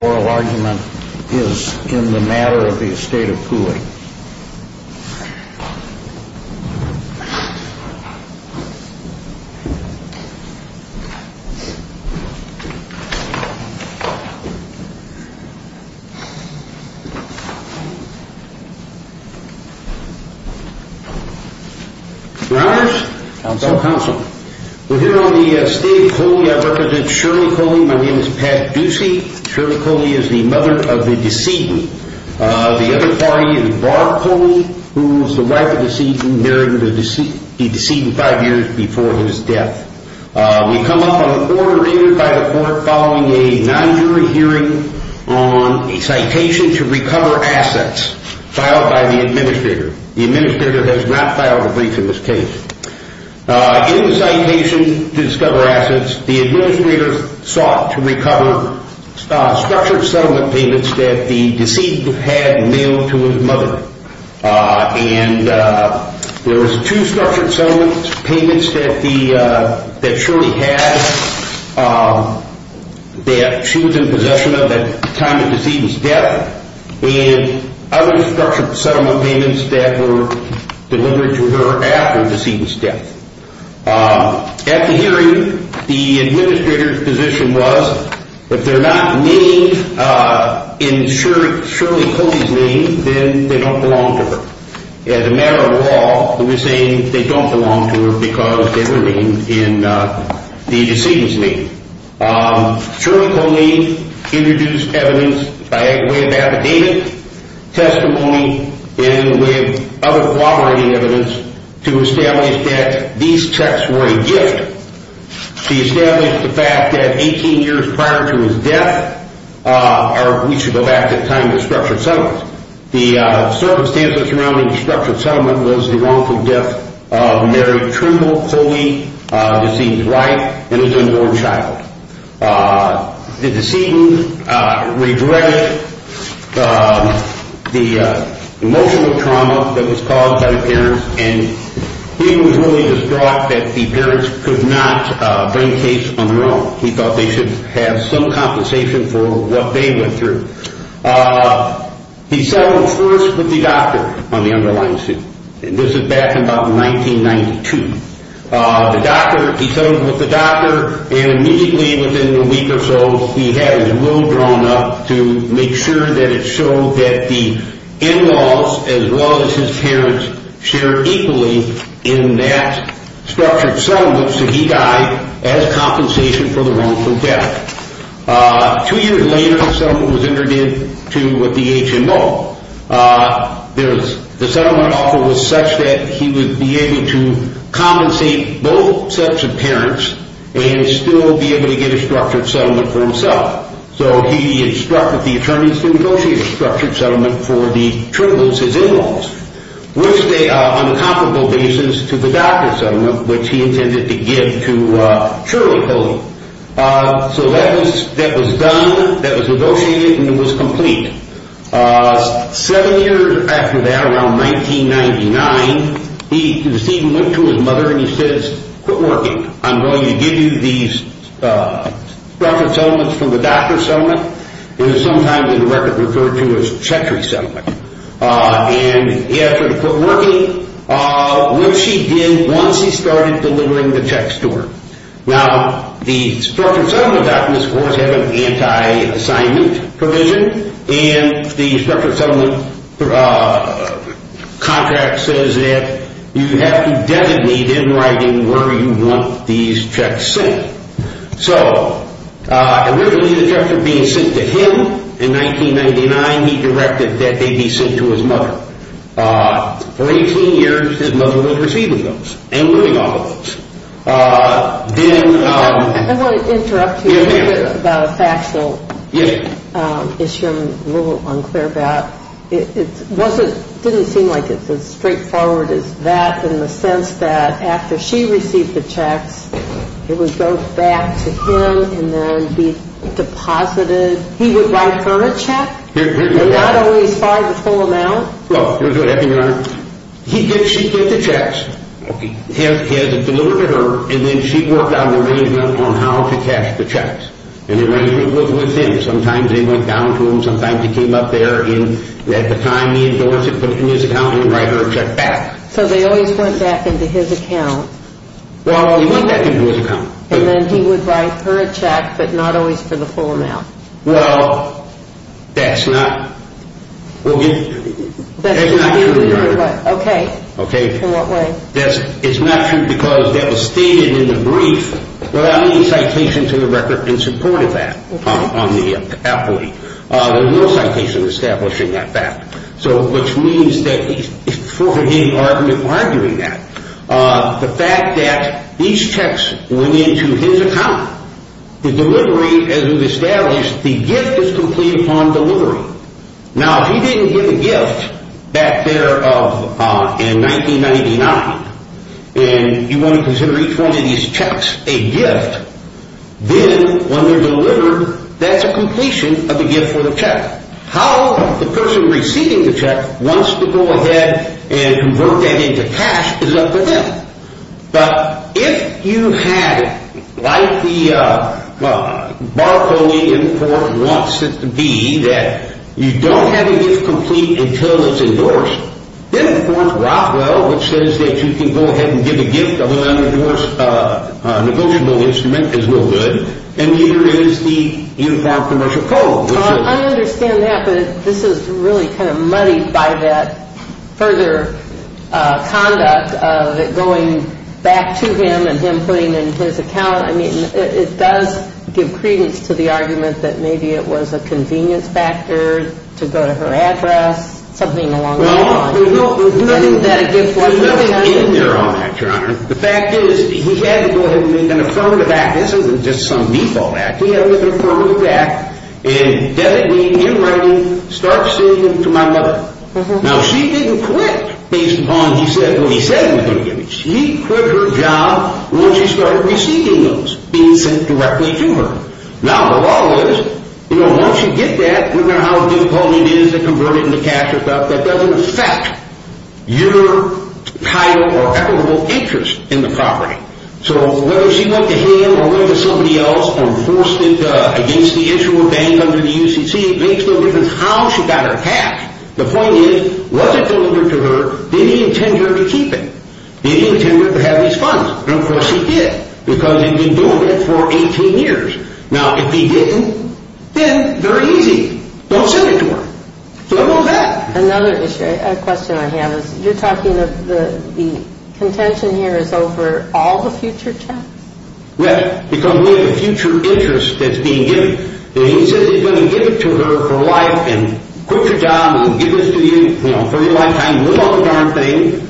The oral argument is in the matter of the Estate of Coley. Your Honors. Counsel. We're here on the Estate of Coley. I represent Shirley Coley. My name is Pat Ducey. Shirley Coley is the mother of the decedent. The other party is Barb Coley, who was the wife of the decedent, married the decedent five years before his death. We come up on an order entered by the court following a non-jury hearing on a citation to recover assets filed by the administrator. The administrator has not filed a brief in this case. In the citation to discover assets, the administrator sought to recover structured settlement payments that the decedent had mailed to his mother. There were two structured settlement payments that Shirley had that she was in possession of at the time of the decedent's death. And other structured settlement payments that were delivered to her after the decedent's death. At the hearing, the administrator's position was, if they're not named in Shirley Coley's name, then they don't belong to her. As a matter of law, he was saying they don't belong to her because they were named in the decedent's name. Shirley Coley introduced evidence by way of affidavit, testimony, and other corroborating evidence to establish that these checks were a gift. He established the fact that 18 years prior to his death, or we should go back to the time of the structured settlement, the circumstances surrounding the structured settlement was the wrongful death of Mary Trimble Coley, the decedent's wife, and his unborn child. The decedent regretted the emotional trauma that was caused by the parents, and he was really distraught that the parents could not bring the case on their own. He thought they should have some compensation for what they went through. He settled first with the doctor on the underlying suit, and this is back in about 1992. He settled with the doctor, and immediately within a week or so, he had his will drawn up to make sure that it showed that the in-laws, as well as his parents, shared equally in that structured settlement, so he died as compensation for the wrongful death. Two years later, the settlement was entered into with the HMO. The settlement offer was such that he would be able to compensate both sets of parents and still be able to get a structured settlement for himself, so he instructed the attorneys to negotiate a structured settlement for the Trimbles, his in-laws, which they, on a comparable basis, to the doctor's settlement, which he intended to give to Shirley Coley. So that was done, that was negotiated, and it was complete. Seven years after that, around 1999, he went to his mother and he says, quit working, I'm going to give you these structured settlements from the doctor's settlement, which is sometimes in the record referred to as Chetri's settlement. And he asked her to quit working, which she did once he started delivering the checks to her. Now, the structured settlement documents, of course, have an anti-assignment provision, and the structured settlement contract says that you have to designate in writing where you want these checks sent. So, originally the checks were being sent to him. In 1999, he directed that they be sent to his mother. For 18 years, his mother was receiving those and living off of those. Then- I want to interrupt you a little bit about a factual issue I'm a little unclear about. It didn't seem like it's as straightforward as that in the sense that after she received the checks, it would go back to him and then be deposited. He would write her a check? Not always for the full amount? Well, here's what happened, Your Honor. She'd get the checks delivered to her, and then she'd work out an arrangement on how to cash the checks. And the arrangement was with him. Sometimes it went down to him, sometimes it came up there, and at the time, he endorsed it, put it in his account, and he'd write her a check back. So they always went back into his account? Well, he went back into his account. And then he would write her a check, but not always for the full amount? Well, that's not true, Your Honor. Okay. In what way? It's not true because that was stated in the brief without any citation to the record in support of that on the affidavit. There's no citation establishing that fact, which means that he's arguing that. The fact that these checks went into his account, the delivery, as it was established, the gift is complete upon delivery. Now, if he didn't give a gift back there in 1999, and you want to consider each one of these checks a gift, then when they're delivered, that's a completion of a gift for the check. How the person receiving the check wants to go ahead and convert that into cash is up to them. But if you had, like the bar code in the court wants it to be, that you don't have a gift complete until it's endorsed, then, of course, Rothwell, which says that you can go ahead and give a gift, other than, of course, a negotiable instrument is no good, and neither is the Uniform Commercial Code. I understand that, but this is really kind of muddied by that further conduct of it going back to him and him putting in his account. I mean, it does give credence to the argument that maybe it was a convenience factor to go to her address, something along that line. Well, there's nothing in there on that, Your Honor. The fact is he had to go ahead and make an affirmative act. Now, this isn't just some default act. He had to make an affirmative act and dedicate in writing, start receiving to my mother. Now, she didn't quit based upon what he said he was going to give her. She quit her job once she started receiving those, being sent directly to her. Now, the law is, once you get that, no matter how difficult it is to convert it into cash or stuff, that doesn't affect your title or equitable interest in the property. So whether she went to him or went to somebody else and forced it against the issue of being under the UCC, it makes no difference how she got her cash. The point is, was it delivered to her? Did he intend her to keep it? Did he intend her to have these funds? And, of course, he did because he'd been doing it for 18 years. Now, if he didn't, then very easy, don't send it to her. So how about that? Another issue, a question I have is, you're talking of the contention here is over all the future checks? Yes, because we have a future interest that's being given. He says he's going to give it to her for life and quit your job and give this to you for your lifetime, live off the darn thing,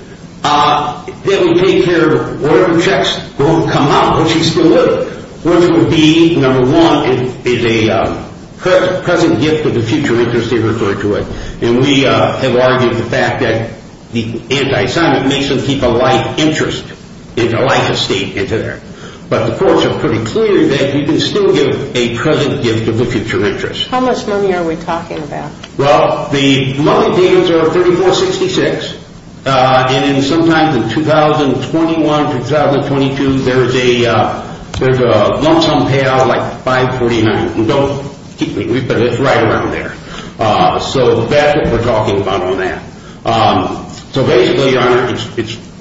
then we'll take care of whatever checks won't come out when she's still living, which would be, number one, is a present gift of the future interest he referred to it. And we have argued the fact that the anti-Semite makes them keep a life interest, a life estate, into there. But the courts are pretty clear that you can still give a present gift of the future interest. How much money are we talking about? Well, the money payments are $3466, and sometimes in 2021, 2022, there's a lump sum payout of like $549. Don't keep me, but it's right around there. So that's what we're talking about on that. So basically, Your Honor,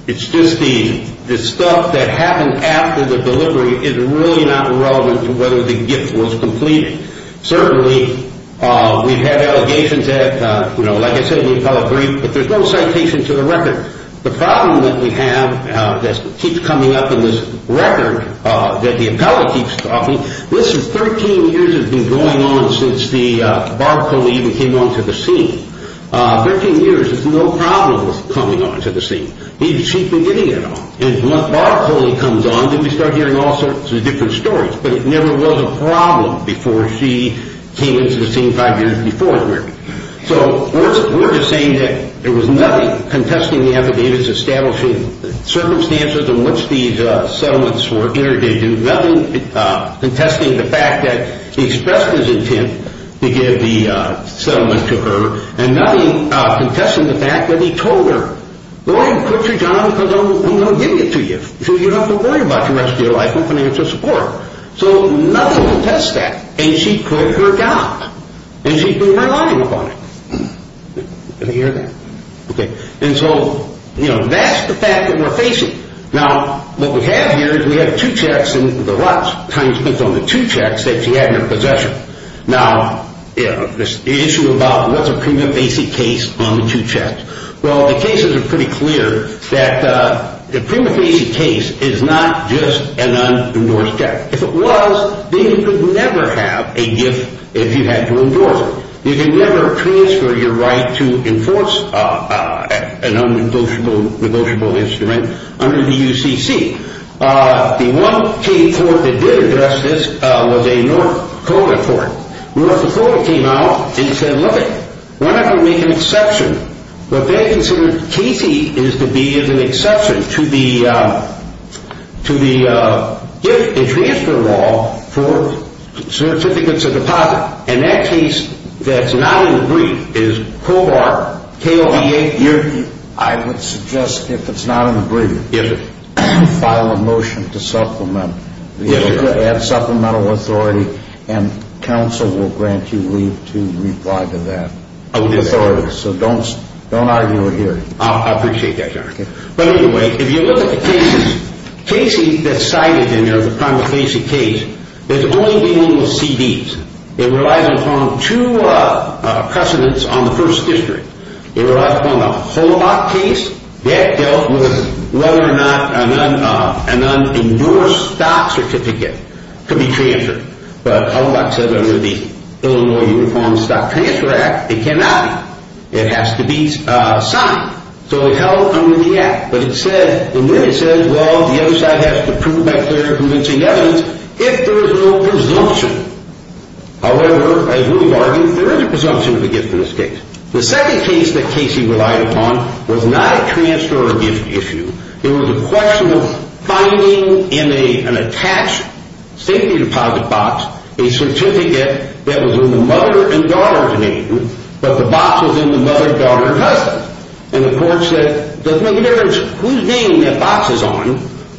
it's just the stuff that happened after the delivery is really not relevant to whether the gift was completed. Certainly, we've had allegations that, you know, like I said, the appellate briefed, but there's no citation to the record. The problem that we have that keeps coming up in this record that the appellate keeps talking, listen, 13 years has been going on since Barbara Coley even came onto the scene. Thirteen years, there's no problem with coming onto the scene. She's been getting it on. And as long as Barbara Coley comes on, then we start hearing all sorts of different stories. But it never was a problem before she came into the scene five years before her marriage. So we're just saying that there was nothing contesting the affidavits establishing the circumstances in which these settlements were interdicted. Nothing contesting the fact that he expressed his intent to give the settlement to her. And nothing contesting the fact that he told her, go ahead and quit your job because I'm going to give it to you so you don't have to worry about the rest of your life with financial support. So nothing contests that. And she quit her job. And she's been relying upon it. Did you hear that? Okay. And so, you know, that's the fact that we're facing. Now, what we have here is we have two checks in the lot. Time spent on the two checks that she had in her possession. Now, the issue about what's a prima facie case on the two checks. Well, the cases are pretty clear that a prima facie case is not just an unendorsed debt. If it was, then you could never have a gift if you had to endorse it. You can never transfer your right to enforce an unnegotiable instrument under the UCC. The one case that did address this was a North Dakota court. North Dakota came out and said, look it, why not go make an exception? What they considered casey is to be is an exception to the gift and transfer law for certificates of deposit. And that case that's not in the brief is COBAR. I would suggest if it's not in the brief, file a motion to supplement. Add supplemental authority and counsel will grant you leave to reply to that authority. So don't argue it here. I appreciate that, Your Honor. But anyway, if you look at the cases, cases that's cited in the prima facie case, it's only dealing with CDs. It relies upon two precedents on the first district. It relies upon the Holaback case. That dealt with whether or not an unendorsed stock certificate could be transferred. But Holaback said under the Illinois Uniform Stock Transfer Act, it cannot be. It has to be signed. So it held under the Act. And then it says, well, the other side has to prove by clear and convincing evidence if there is no presumption. However, as we've argued, there is a presumption of a gift in this case. The second case that casey relied upon was not a transfer or a gift issue. It was a question of finding in an attached safety deposit box a certificate that was in the mother and daughter's name, but the box was in the mother, daughter, and husband. And the court said, it doesn't make a difference whose name that box is on.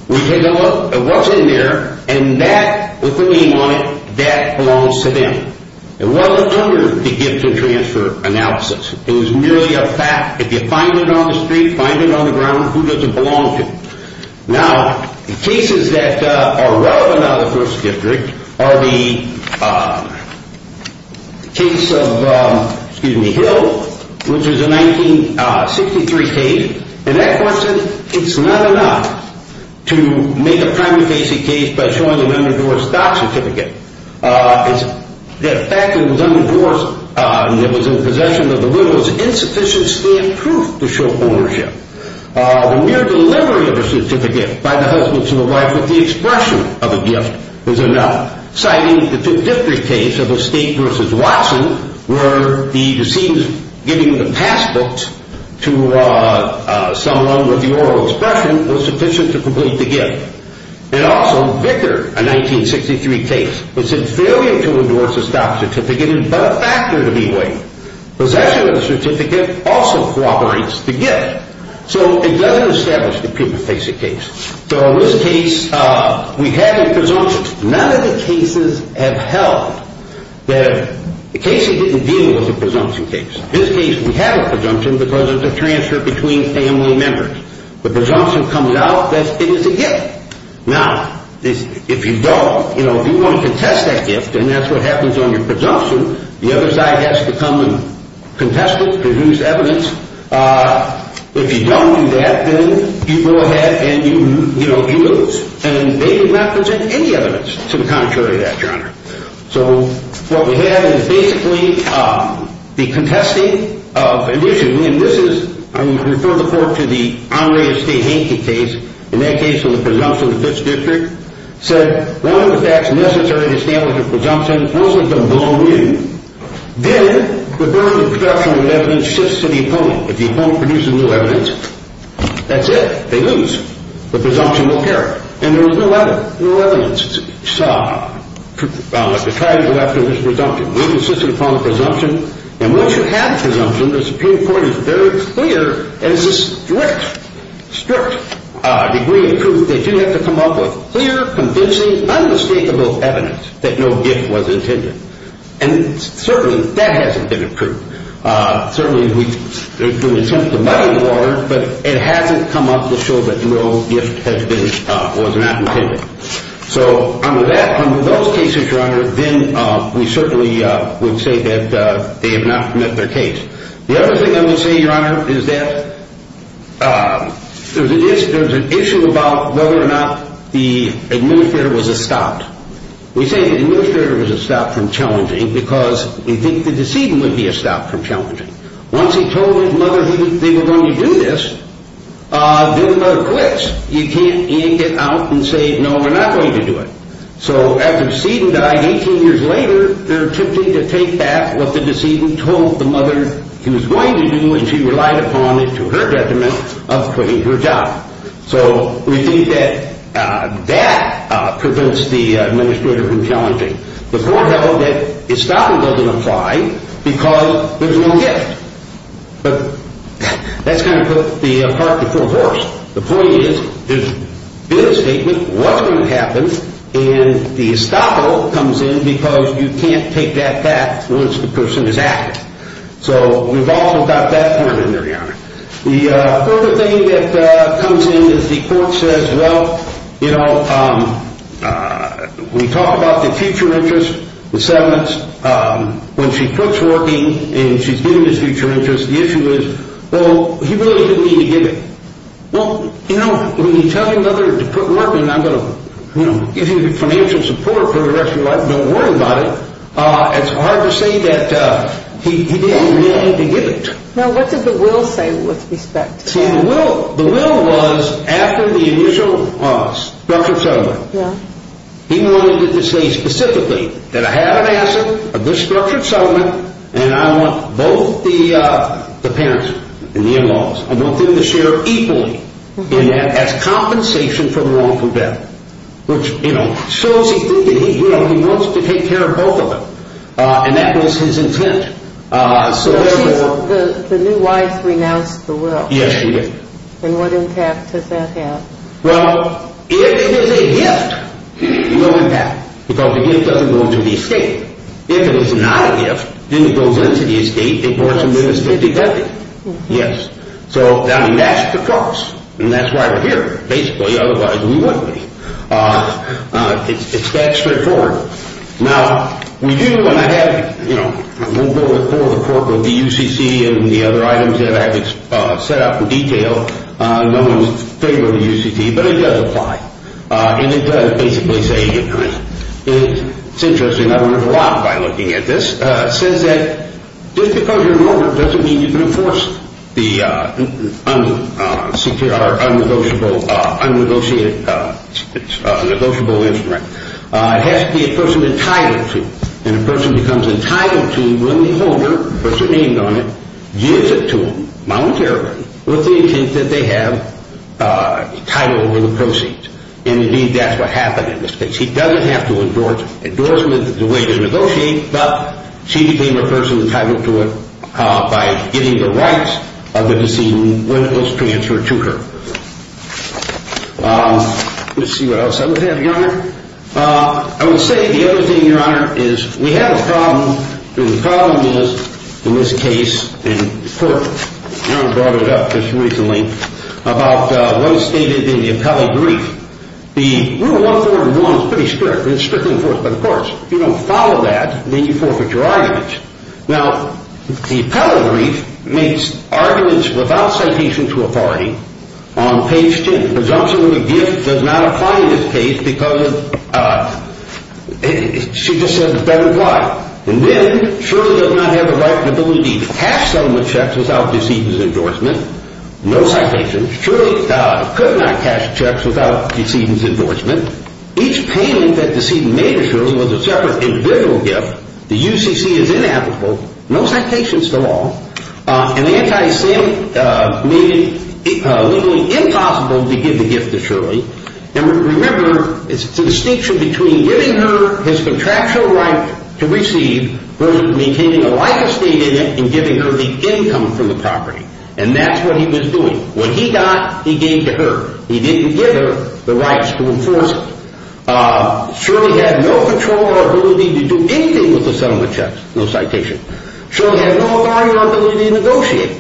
We take a look at what's in there, and that, with the name on it, that belongs to them. It wasn't under the gift and transfer analysis. It was merely a fact. If you find it on the street, find it on the ground, who does it belong to? Now, the cases that are relevant out of the first district are the case of Hill, which is a 1963 case. And that court said it's not enough to make a primary case a case by showing an unenforced stock certificate. The fact that it was unenforced and it was in possession of the widow is insufficient standproof to show ownership. The mere delivery of a certificate by the husband to the wife with the expression of a gift is enough, citing the district case of Estate v. Watson where the deceit of giving the passbook to someone with the oral expression was sufficient to complete the gift. And also, Vicker, a 1963 case, which said failure to endorse a stock certificate is but a factor to be weighed. Possession of the certificate also cooperates the gift. So it doesn't establish that people face a case. So in this case, we have a presumption. None of the cases have held that a case that didn't deal was a presumption case. In this case, we have a presumption because of the transfer between family members. The presumption comes out that it is a gift. Now, if you don't, you know, if you want to contest that gift and that's what happens on your presumption, the other side has to come and contest it to produce evidence. If you don't do that, then you go ahead and, you know, you lose. And they did not present any evidence to the contrary of that, Your Honor. So what we have is basically the contesting of an issue. And this is, I refer the court to the Henri Estate-Hankey case. In that case, when the presumption of the fifth district said one of the facts necessary to establish a presumption, those are going to belong to you. Then the burden of production of evidence shifts to the opponent. If the opponent produces no evidence, that's it. They lose. The presumption will carry. And there was no evidence. You saw what the charges were after this presumption. We insisted upon the presumption. And once you have a presumption, the Supreme Court is very clear, and it's a strict, strict degree of proof, that you have to come up with clear, convincing, unmistakable evidence that no gift was intended. And certainly, that hasn't been approved. Certainly, we can attempt to muddy the water, but it hasn't come up to show that no gift has been or was not intended. So under that, under those cases, Your Honor, then we certainly would say that they have not met their case. The other thing I would say, Your Honor, is that there's an issue about whether or not the administrator was a stop. We say the administrator was a stop from challenging because we think the decedent would be a stop from challenging. Once he told his mother they were going to do this, then the mother quits. You can't end it out and say, no, we're not going to do it. So after the decedent died 18 years later, they're attempting to take back what the decedent told the mother he was going to do, and she relied upon it to her detriment of quitting her job. So we think that that prevents the administrator from challenging. The court held that stopping doesn't apply because there's no gift. The point is, there's been a statement, what's going to happen? And the estoppel comes in because you can't take that back once the person is active. So we've also got that part in there, Your Honor. The other thing that comes in is the court says, well, you know, we talk about the future interest, the settlements. When she quits working and she's given his future interest, the issue is, well, he really didn't need to give it. Well, you know, when you tell your mother to quit working, I'm going to give you financial support for the rest of your life. Don't worry about it. It's hard to say that he didn't really need to give it. Now, what did the will say with respect to that? See, the will was after the initial structured settlement. Yeah. He wanted it to say specifically that I have an asset, a good structured settlement, and I want both the parents and the in-laws. I want them to share equally in that as compensation for the wrongful death, which, you know, shows he thinks that he wants to take care of both of them. And that was his intent. So the new wife renounced the will. Yes, she did. And what impact does that have? Well, it is a gift. No impact. Because the gift doesn't go into the estate. If it is not a gift, then it goes into the estate. Yes. So that would match the cost. And that's why we're here, basically. Otherwise, we wouldn't be. It's that straightforward. Now, we do, and I had, you know, a little bit before the report with the UCC and the other items that I had set up in detail. No one was in favor of the UCC, but it does apply. And it does basically say, you know, it's interesting. I learned a lot by looking at this. It says that just because you're an owner doesn't mean you can enforce the unsecured or unnegotiated negotiable instrument. It has to be a person entitled to. And a person becomes entitled to when the owner puts their name on it, gives it to them voluntarily with the intent that they have a title over the proceeds. And, indeed, that's what happened in this case. He doesn't have to endorse them in the way they negotiate, but she became a person entitled to it by getting the rights of the decedent when it was transferred to her. Let's see what else I would have, Your Honor. I would say the other thing, Your Honor, is we have a problem. The problem is in this case in court. Your Honor brought it up just recently about what is stated in the appellee brief. The Rule 141 is pretty strict. It's strictly enforced. But, of course, if you don't follow that, then you forfeit your argument. Now, the appellee brief makes arguments without citation to authority on page 10. The presumption of a gift does not apply in this case because she just said it better apply. And then Shirley does not have the right or ability to cash settlement checks without decedent's endorsement. No citations. Shirley could not cash checks without decedent's endorsement. Each payment that decedent made to Shirley was a separate individual gift. The UCC is inapplicable. No citations to law. An anti-Semite made it legally impossible to give the gift to Shirley. And remember, it's the distinction between giving her his contractual right to receive versus maintaining a life estate in it and giving her the income from the property. And that's what he was doing. What he got, he gave to her. He didn't give her the rights to enforce it. Shirley had no control or ability to do anything with the settlement checks. No citations. Shirley had no authority or ability to negotiate.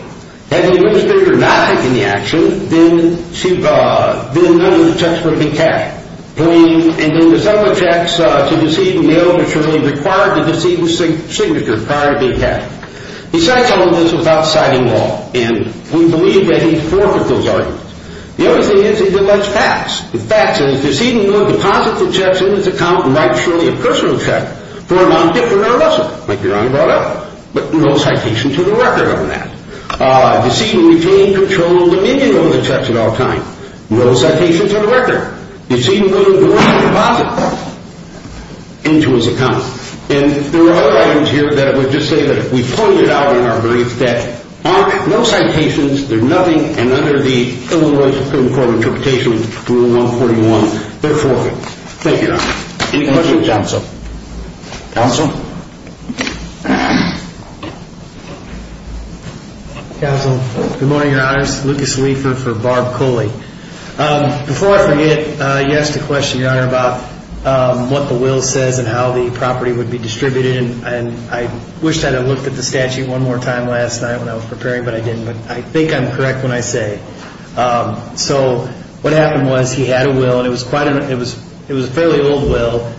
Had the administrator not taken the action, then none of the checks would have been cashed. And then the settlement checks to decedent mailed to Shirley required the decedent's signature prior to being cashed. He signed some of this without citing law. And we believe that he forfeited those arguments. The other thing is, he didn't let it pass. The fact is, decedent would deposit the checks in his account and write Shirley a personal check for a non-gift or non-lesson, like Your Honor brought up, but no citation to the record on that. Decedent retained control of the meaning of the checks at all times. No citations on the record. Decedent wouldn't deposit them into his account. And there are other items here that I would just say that we pointed out in our brief that aren't no citations, they're nothing, and under the Illinois Supreme Court Interpretation Rule 141, they're forfeited. Thank you, Your Honor. Any questions of counsel? Counsel? Counsel, good morning, Your Honors. Lucas Leifer for Barb Cooley. Before I forget, you asked a question, Your Honor, about what the will says and how the property would be distributed. And I wished I had looked at the statute one more time last night when I was preparing, but I didn't. But I think I'm correct when I say. So what happened was he had a will, and it was a fairly old will.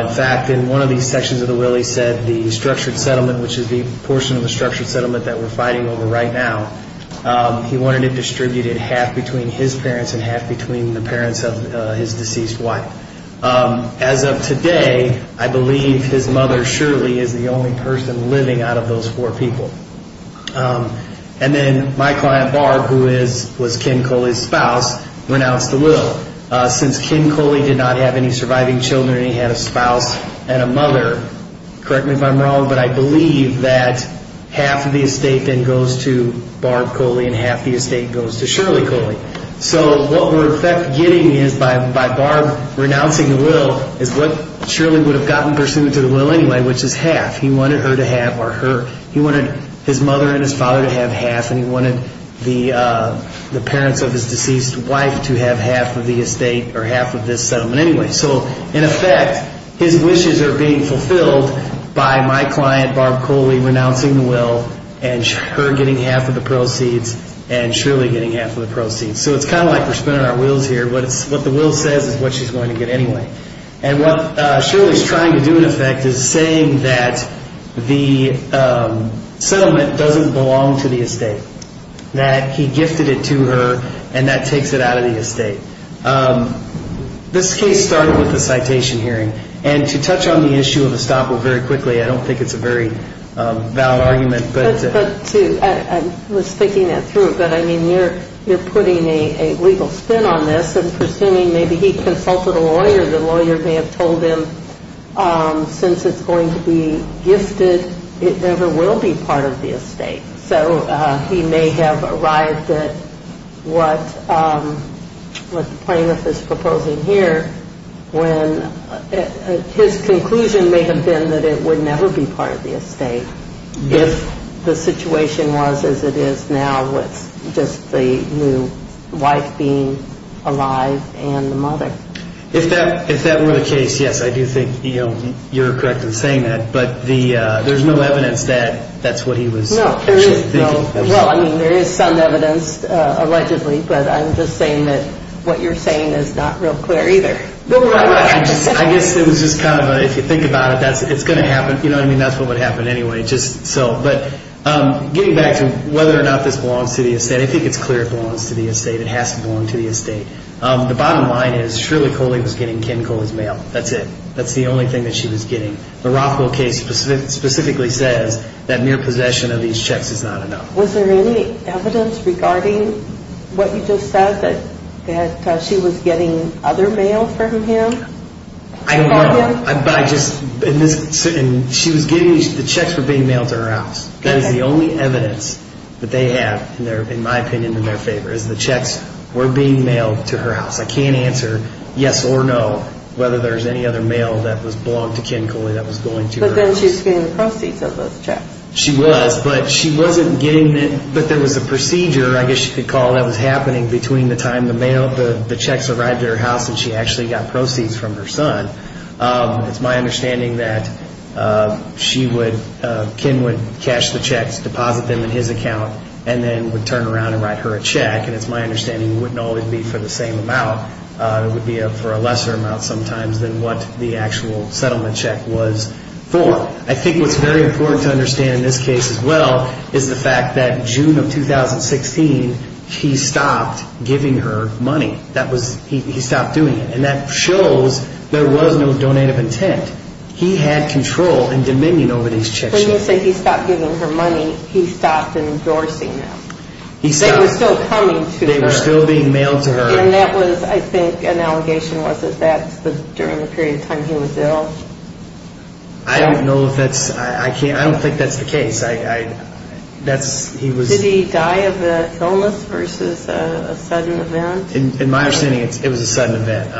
In fact, in one of these sections of the will, he said the structured settlement, which is the portion of the structured settlement that we're fighting over right now, he wanted it distributed half between his parents and half between the parents of his deceased wife. As of today, I believe his mother surely is the only person living out of those four people. And then my client, Barb, who was Ken Cooley's spouse, renounced the will. Since Ken Cooley did not have any surviving children, and he had a spouse and a mother, correct me if I'm wrong, but I believe that half of the estate then goes to Barb Cooley and half the estate goes to Shirley Cooley. So what we're in fact getting is, by Barb renouncing the will, is what Shirley would have gotten pursuant to the will anyway, which is half. He wanted his mother and his father to have half, and he wanted the parents of his deceased wife to have half of the estate or half of this settlement anyway. So in effect, his wishes are being fulfilled by my client, Barb Cooley, renouncing the will and her getting half of the proceeds and Shirley getting half of the proceeds. So it's kind of like we're spinning our wheels here. What the will says is what she's going to get anyway. And what Shirley's trying to do in effect is saying that the settlement doesn't belong to the estate, that he gifted it to her and that takes it out of the estate. This case started with a citation hearing, and to touch on the issue of estoppel very quickly, I don't think it's a very valid argument. I was thinking that through, but, I mean, you're putting a legal spin on this and presuming maybe he consulted a lawyer. The lawyer may have told him since it's going to be gifted, it never will be part of the estate. So he may have arrived at what the plaintiff is proposing here when his conclusion may have been that it would never be part of the estate if the situation was as it is now with just the new wife being alive and the mother. If that were the case, yes, I do think you're correct in saying that, but there's no evidence that that's what he was thinking. Well, I mean, there is some evidence allegedly, but I'm just saying that what you're saying is not real clear either. I guess it was just kind of, if you think about it, it's going to happen. You know what I mean? That's what would happen anyway. But getting back to whether or not this belongs to the estate, I think it's clear it belongs to the estate. It has to belong to the estate. The bottom line is Shirley Coley was getting Ken Coley's mail. That's it. That's the only thing that she was getting. The Rockwell case specifically says that mere possession of these checks is not enough. Was there any evidence regarding what you just said, that she was getting other mail from him? She was getting the checks for being mailed to her house. That is the only evidence that they have, in my opinion, in their favor, is the checks were being mailed to her house. I can't answer yes or no, whether there's any other mail that belonged to Ken Coley that was going to her house. But then she was getting the proceeds of those checks. She was, but she wasn't getting it. But there was a procedure, I guess you could call it, that was happening between the time the checks arrived at her house and she actually got proceeds from her son. It's my understanding that Ken would cash the checks, deposit them in his account, and then would turn around and write her a check. And it's my understanding it wouldn't always be for the same amount. It would be for a lesser amount sometimes than what the actual settlement check was for. I think what's very important to understand in this case as well is the fact that June of 2016, he stopped giving her money. He stopped doing it. And that shows there was no donate of intent. He had control and dominion over these checks. When you say he stopped giving her money, he stopped endorsing them. They were still coming to her. They were still being mailed to her. And that was, I think, an allegation. Was it that during the period of time he was ill? I don't know if that's, I don't think that's the case. Did he die of illness versus a sudden event? In my understanding, it was a sudden event.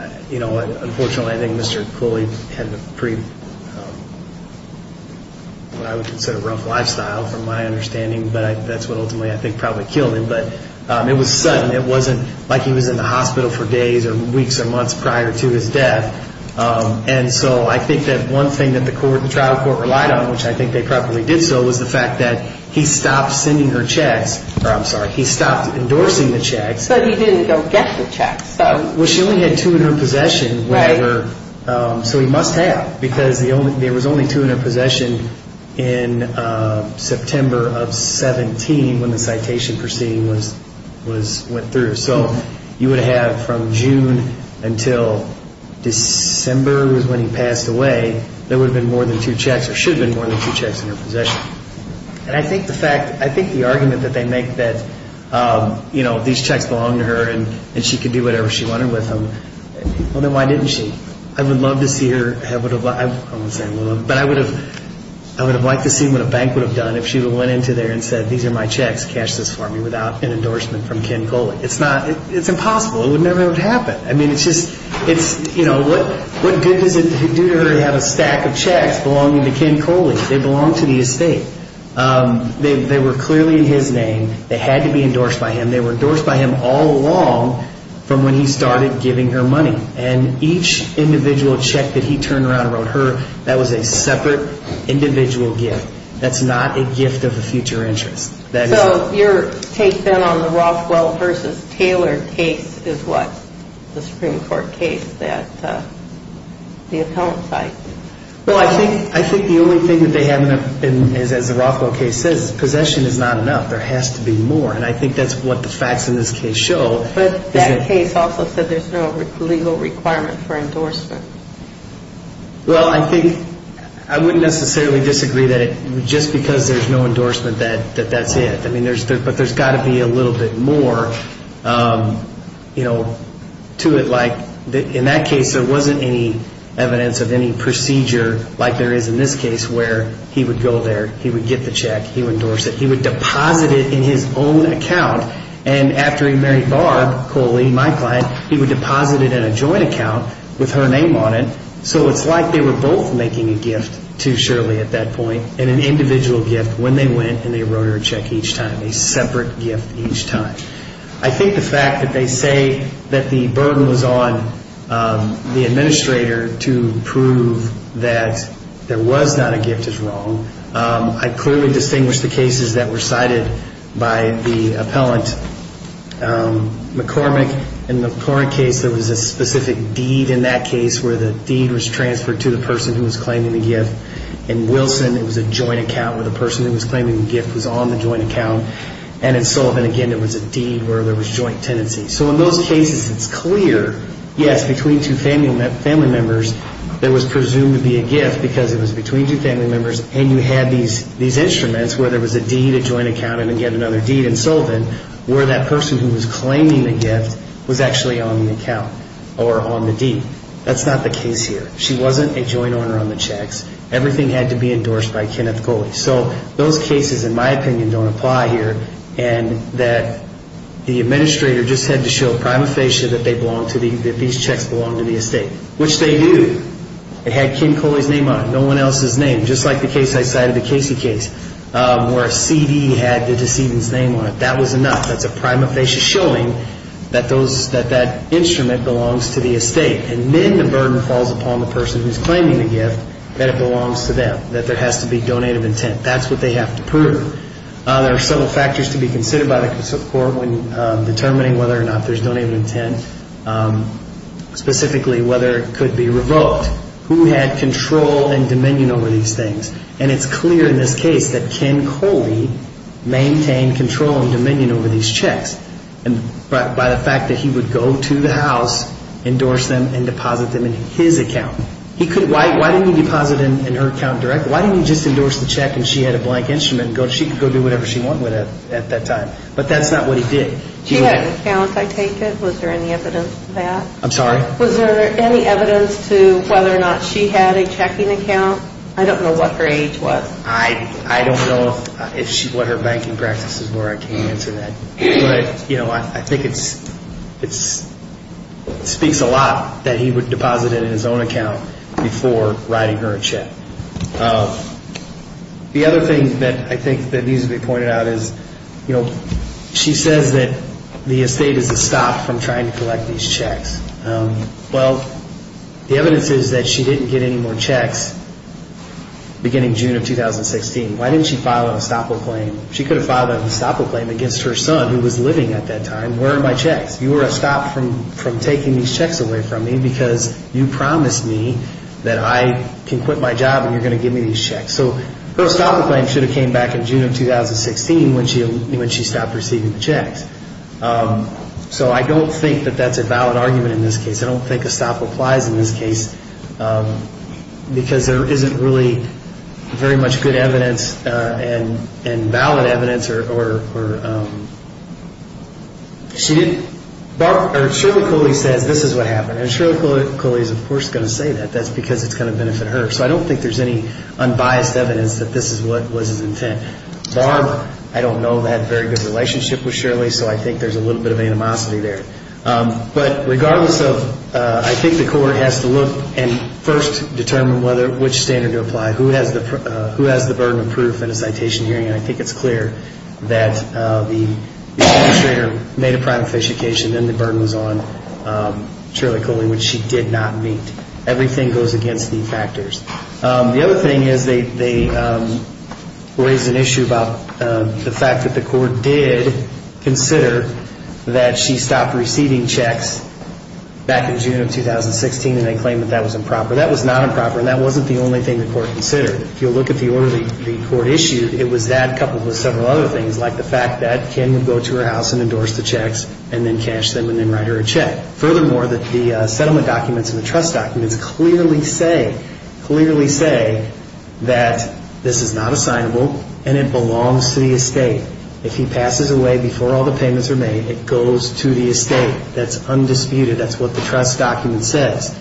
Unfortunately, I think Mr. Cooley had a pretty, what I would consider, rough lifestyle from my understanding. But that's what ultimately, I think, probably killed him. But it was sudden. It wasn't like he was in the hospital for days or weeks or months prior to his death. And so I think that one thing that the trial court relied on, which I think they probably did so, was the fact that he stopped sending her checks, or I'm sorry, he stopped endorsing the checks. But he didn't go get the checks. Well, she only had two in her possession. Right. So he must have. Because there was only two in her possession in September of 17 when the citation proceeding went through. So you would have from June until December is when he passed away, there would have been more than two checks, or should have been more than two checks in her possession. And I think the fact, I think the argument that they make that, you know, these checks belonged to her and she could do whatever she wanted with them, well, then why didn't she? I would love to see her, I wouldn't say I would love, but I would have liked to see what a bank would have done if she would have went into there and said, these are my checks, cash this for me, without an endorsement from Ken Coley. It's not, it's impossible. It would never have happened. I mean, it's just, it's, you know, what good does it do to her to have a stack of checks belonging to Ken Coley? They belong to the estate. They were clearly in his name. They had to be endorsed by him. They were endorsed by him all along from when he started giving her money. And each individual check that he turned around and wrote her, that was a separate individual gift. That's not a gift of a future interest. So your take then on the Rothwell v. Taylor case is what? The Supreme Court case that the appellant cited. Well, I think the only thing that they haven't, as the Rothwell case says, is possession is not enough. There has to be more. And I think that's what the facts in this case show. But that case also said there's no legal requirement for endorsement. Well, I think I wouldn't necessarily disagree that just because there's no endorsement that that's it. I mean, but there's got to be a little bit more, you know, to it. Like in that case there wasn't any evidence of any procedure like there is in this case where he would go there, he would get the check, he would endorse it. He would deposit it in his own account. And after he married Barb Coley, my client, he would deposit it in a joint account with her name on it. So it's like they were both making a gift to Shirley at that point and an individual gift when they went and they wrote her a check each time, a separate gift each time. I think the fact that they say that the burden was on the administrator to prove that there was not a gift is wrong. I clearly distinguish the cases that were cited by the appellant McCormick. In the McCormick case, there was a specific deed in that case where the deed was transferred to the person who was claiming the gift. In Wilson, it was a joint account where the person who was claiming the gift was on the joint account. And in Sullivan, again, there was a deed where there was joint tenancy. So in those cases, it's clear, yes, between two family members, there was presumed to be a gift because it was between two family members. And you had these instruments where there was a deed, a joint account, and again, another deed in Sullivan, where that person who was claiming the gift was actually on the account or on the deed. That's not the case here. She wasn't a joint owner on the checks. Everything had to be endorsed by Kenneth Coley. So those cases, in my opinion, don't apply here. And that the administrator just had to show a prima facie that these checks belonged to the estate, which they do. It had Ken Coley's name on it, no one else's name, just like the case I cited, the Casey case, where a CD had the decedent's name on it. That was enough. That's a prima facie showing that that instrument belongs to the estate. And then the burden falls upon the person who's claiming the gift that it belongs to them, that there has to be donated intent. That's what they have to prove. There are several factors to be considered by the court when determining whether or not there's donated intent, specifically whether it could be revoked, who had control and dominion over these things. And it's clear in this case that Ken Coley maintained control and dominion over these checks. By the fact that he would go to the house, endorse them, and deposit them in his account. Why didn't he deposit them in her account directly? Why didn't he just endorse the check and she had a blank instrument? She could go do whatever she wanted with it at that time. But that's not what he did. She had an account, I take it. Was there any evidence of that? I'm sorry? Was there any evidence to whether or not she had a checking account? I don't know what her age was. I don't know what her banking practices were. I can't answer that. But, you know, I think it speaks a lot that he would deposit it in his own account before writing her a check. The other thing that I think that needs to be pointed out is, you know, she says that the estate is a stop from trying to collect these checks. Well, the evidence is that she didn't get any more checks beginning June of 2016. Why didn't she file a stopple claim? She could have filed a stopple claim against her son who was living at that time. Where are my checks? You are a stop from taking these checks away from me because you promised me that I can quit my job and you're going to give me these checks. So her stopple claim should have came back in June of 2016 when she stopped receiving the checks. So I don't think that that's a valid argument in this case. I don't think a stop applies in this case because there isn't really very much good evidence and valid evidence. Shirley Coley says this is what happened. And Shirley Coley is, of course, going to say that. That's because it's going to benefit her. So I don't think there's any unbiased evidence that this is what was his intent. Barb, I don't know, had a very good relationship with Shirley. So I think there's a little bit of animosity there. But regardless of, I think the court has to look and first determine which standard to apply. Who has the burden of proof in a citation hearing? And I think it's clear that the administrator made a prima facie case and then the burden was on Shirley Coley, which she did not meet. Everything goes against these factors. The other thing is they raised an issue about the fact that the court did consider that she stopped receiving checks back in June of 2016. And they claimed that that was improper. That was not improper. And that wasn't the only thing the court considered. If you look at the order the court issued, it was that coupled with several other things, like the fact that Ken would go to her house and endorse the checks and then cash them and then write her a check. Furthermore, the settlement documents and the trust documents clearly say that this is not assignable and it belongs to the estate. If he passes away before all the payments are made, it goes to the estate. That's undisputed. That's what the trust document says.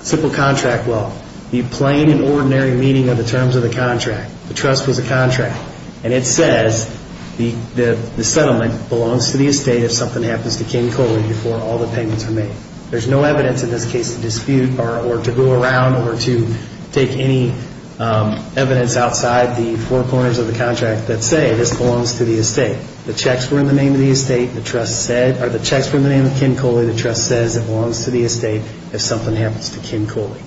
Simple contract, well, the plain and ordinary meaning of the terms of the contract. The trust was a contract. And it says the settlement belongs to the estate if something happens to Ken Coley before all the payments are made. There's no evidence in this case to dispute or to go around or to take any evidence outside the four corners of the contract that say this belongs to the estate. The checks were in the name of the estate. The checks were in the name of Ken Coley. The trust says it belongs to the estate if something happens to Ken Coley.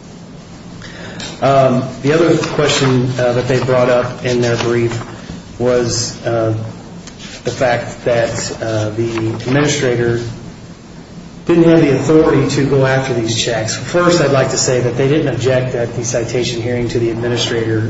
The other question that they brought up in their brief was the fact that the administrator didn't have the authority to go after these checks. First, I'd like to say that they didn't object at the citation hearing to the administrator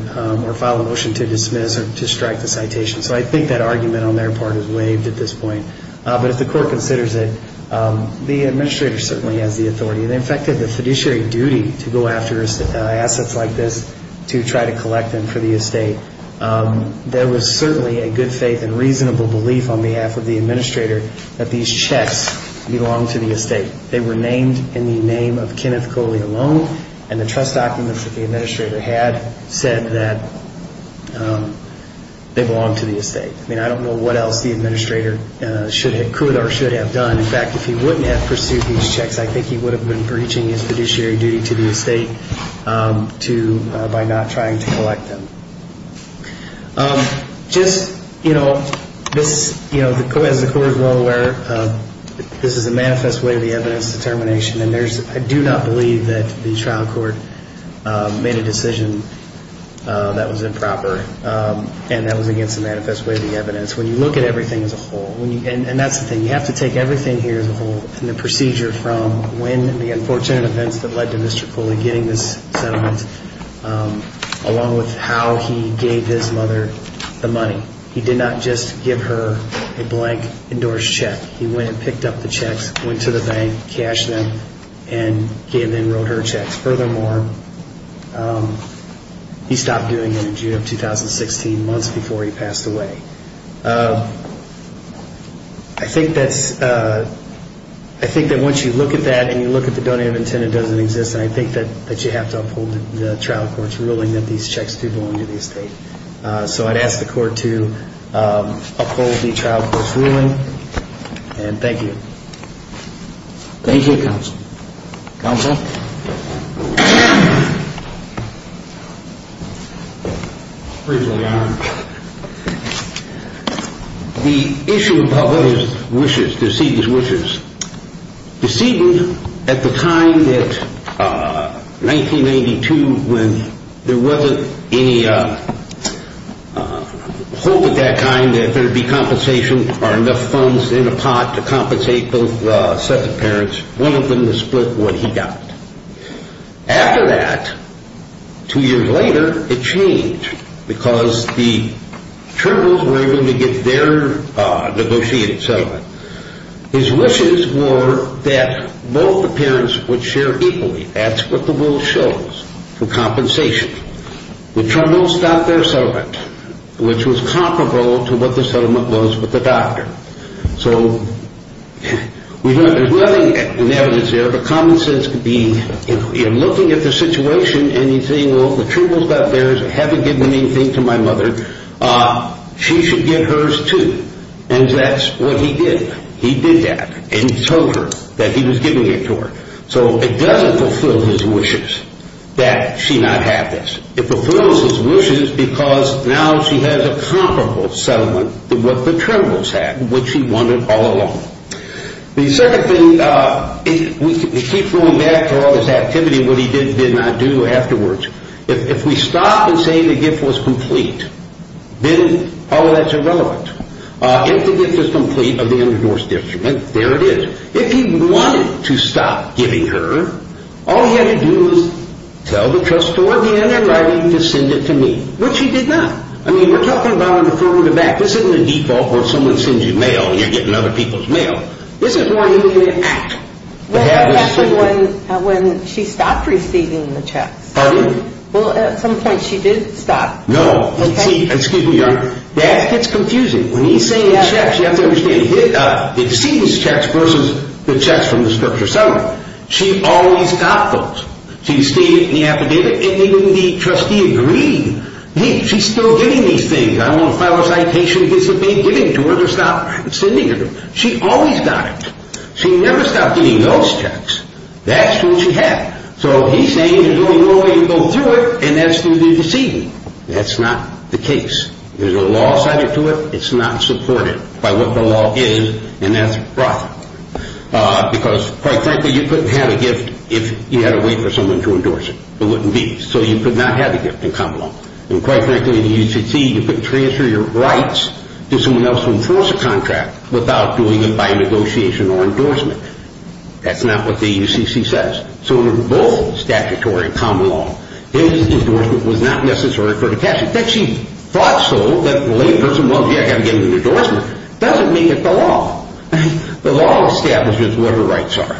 or file a motion to dismiss or to strike the citation. So I think that argument on their part is waived at this point. But if the court considers it, the administrator certainly has the authority. In fact, they have the fiduciary duty to go after assets like this to try to collect them for the estate. There was certainly a good faith and reasonable belief on behalf of the administrator that these checks belong to the estate. They were named in the name of Kenneth Coley alone, and the trust documents that the administrator had said that they belong to the estate. I mean, I don't know what else the administrator could or should have done. In fact, if he wouldn't have pursued these checks, I think he would have been breaching his fiduciary duty to the estate by not trying to collect them. Just, you know, as the court is well aware, this is a manifest way of the evidence determination, and I do not believe that the trial court made a decision that was improper and that was against the manifest way of the evidence. When you look at everything as a whole, and that's the thing, you have to take everything here as a whole and the procedure from when the unfortunate events that led to Mr. Coley getting this settlement, along with how he gave his mother the money. He did not just give her a blank endorsed check. He went and picked up the checks, went to the bank, cashed them, and then wrote her checks. Furthermore, he stopped doing it in June of 2016, months before he passed away. I think that once you look at that and you look at the donative intent, it doesn't exist, and I think that you have to uphold the trial court's ruling that these checks do belong to the estate. So I'd ask the court to uphold the trial court's ruling, and thank you. Thank you, counsel. Counsel? The issue of public wishes, decedent's wishes, decedent at the time that 1992 when there wasn't any hope of that kind, that there would be compensation or enough funds in a pot to compensate both sets of parents. One of them to split what he got. After that, two years later, it changed because the Trumbulls were able to get their negotiated settlement. His wishes were that both the parents would share equally. That's what the rule shows, the compensation. The Trumbulls got their settlement, which was comparable to what the settlement was with the doctor. So there's nothing in evidence there, but common sense could be if you're looking at the situation and you're saying, well, the Trumbulls got theirs, haven't given anything to my mother, she should get hers, too. And that's what he did. He did that, and he told her that he was giving it to her. So it doesn't fulfill his wishes that she not have this. It fulfills his wishes because now she has a comparable settlement to what the Trumbulls had, which she wanted all along. The second thing, we keep going back to all this activity, what he did and did not do afterwards. If we stop and say the gift was complete, then all of that's irrelevant. If the gift is complete of the undivorced detriment, there it is. If he wanted to stop giving her, all he had to do was tell the trust board he had in writing to send it to me, which he did not. I mean, we're talking about a deferral of act. This isn't a default where someone sends you mail and you're getting other people's mail. This is more usually an act. Well, that's when she stopped receiving the checks. Pardon me? Well, at some point she did stop. No. Excuse me, Your Honor. That gets confusing. When he's saying the checks, you have to understand, the decedent's checks versus the checks from the structure settlement. She always got those. She stated in the affidavit and even the trustee agreed. She's still getting these things. I'm going to file a citation against the bank giving it to her to stop sending it to her. She always got it. She never stopped getting those checks. That's what she had. So he's saying there's only one way to go through it, and that's through the decedent. That's not the case. There's a law assigned to it. It's not supported by what the law is, and that's wrong. Because, quite frankly, you couldn't have a gift if you had a way for someone to endorse it. It wouldn't be. So you could not have a gift in common law. And, quite frankly, in the UCC, you couldn't transfer your rights to someone else to enforce a contract without doing it by negotiation or endorsement. That's not what the UCC says. So in both statutory and common law, his endorsement was not necessary for her to cash it. And the fact that she thought so, that the layperson, well, gee, I've got to get me an endorsement, doesn't make it the law. The law establishes what her rights are.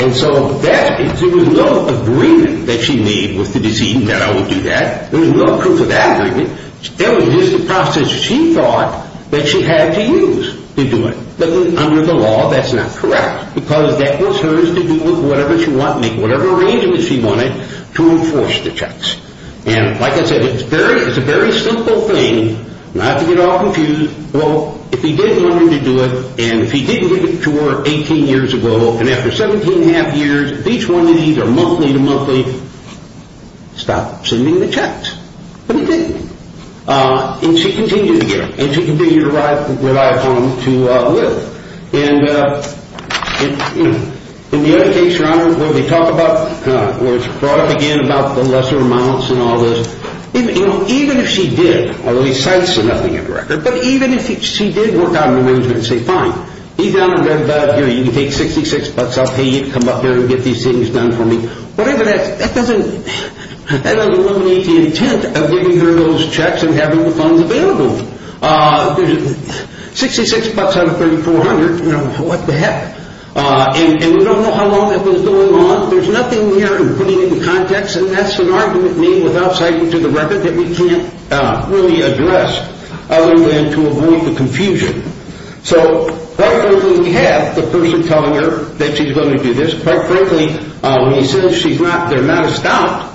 And so there was no agreement that she made with the decedent that I would do that. There was no proof of that agreement. It was just a process she thought that she had to use to do it. But under the law, that's not correct because that was hers to do with whatever she wanted, make whatever arrangements she wanted to enforce the checks. And, like I said, it's a very simple thing, not to get all confused. Well, if he didn't want her to do it, and if he didn't give it to her 18 years ago, and after 17 and a half years, each one of these are monthly to monthly, stop sending the checks. But he didn't. And she continued to get them. And she continued to ride home to live. And, you know, in the other case, Your Honor, where they talk about, where it's brought up again about the lesser amounts and all this, you know, even if she did, although he cites the nothing in the record, but even if she did work out an arrangement and say, fine, either, Your Honor, you can take 66 bucks off, hey, you can come up here and get these things done for me, whatever that is, that doesn't eliminate the intent of giving her those checks and having the funds available. 66 bucks out of 3,400, you know, what the heck? And we don't know how long that was going on. There's nothing here in putting it into context. And that's an argument made without citing to the record that we can't really address other than to avoid the confusion. So, quite frankly, we have the person telling her that she's going to do this. Quite frankly, when he says she's not, they're not astounded.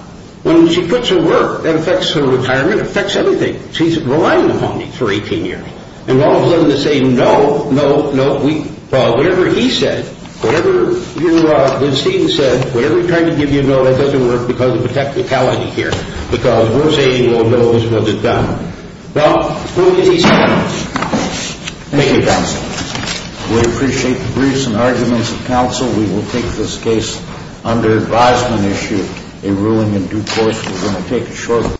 When she puts her work, that affects her retirement. It affects everything. She's relying on him for 18 years. And all of a sudden they say, no, no, no. Whatever he said, whatever you have seen said, whatever he tried to give you, no, that doesn't work because of the technicality here. Because we're saying, well, no, this wasn't done. Well, who did he say it was? Thank you, counsel. We appreciate the briefs and arguments of counsel. We will take this case under advisement issue, a ruling in due course. Thank you.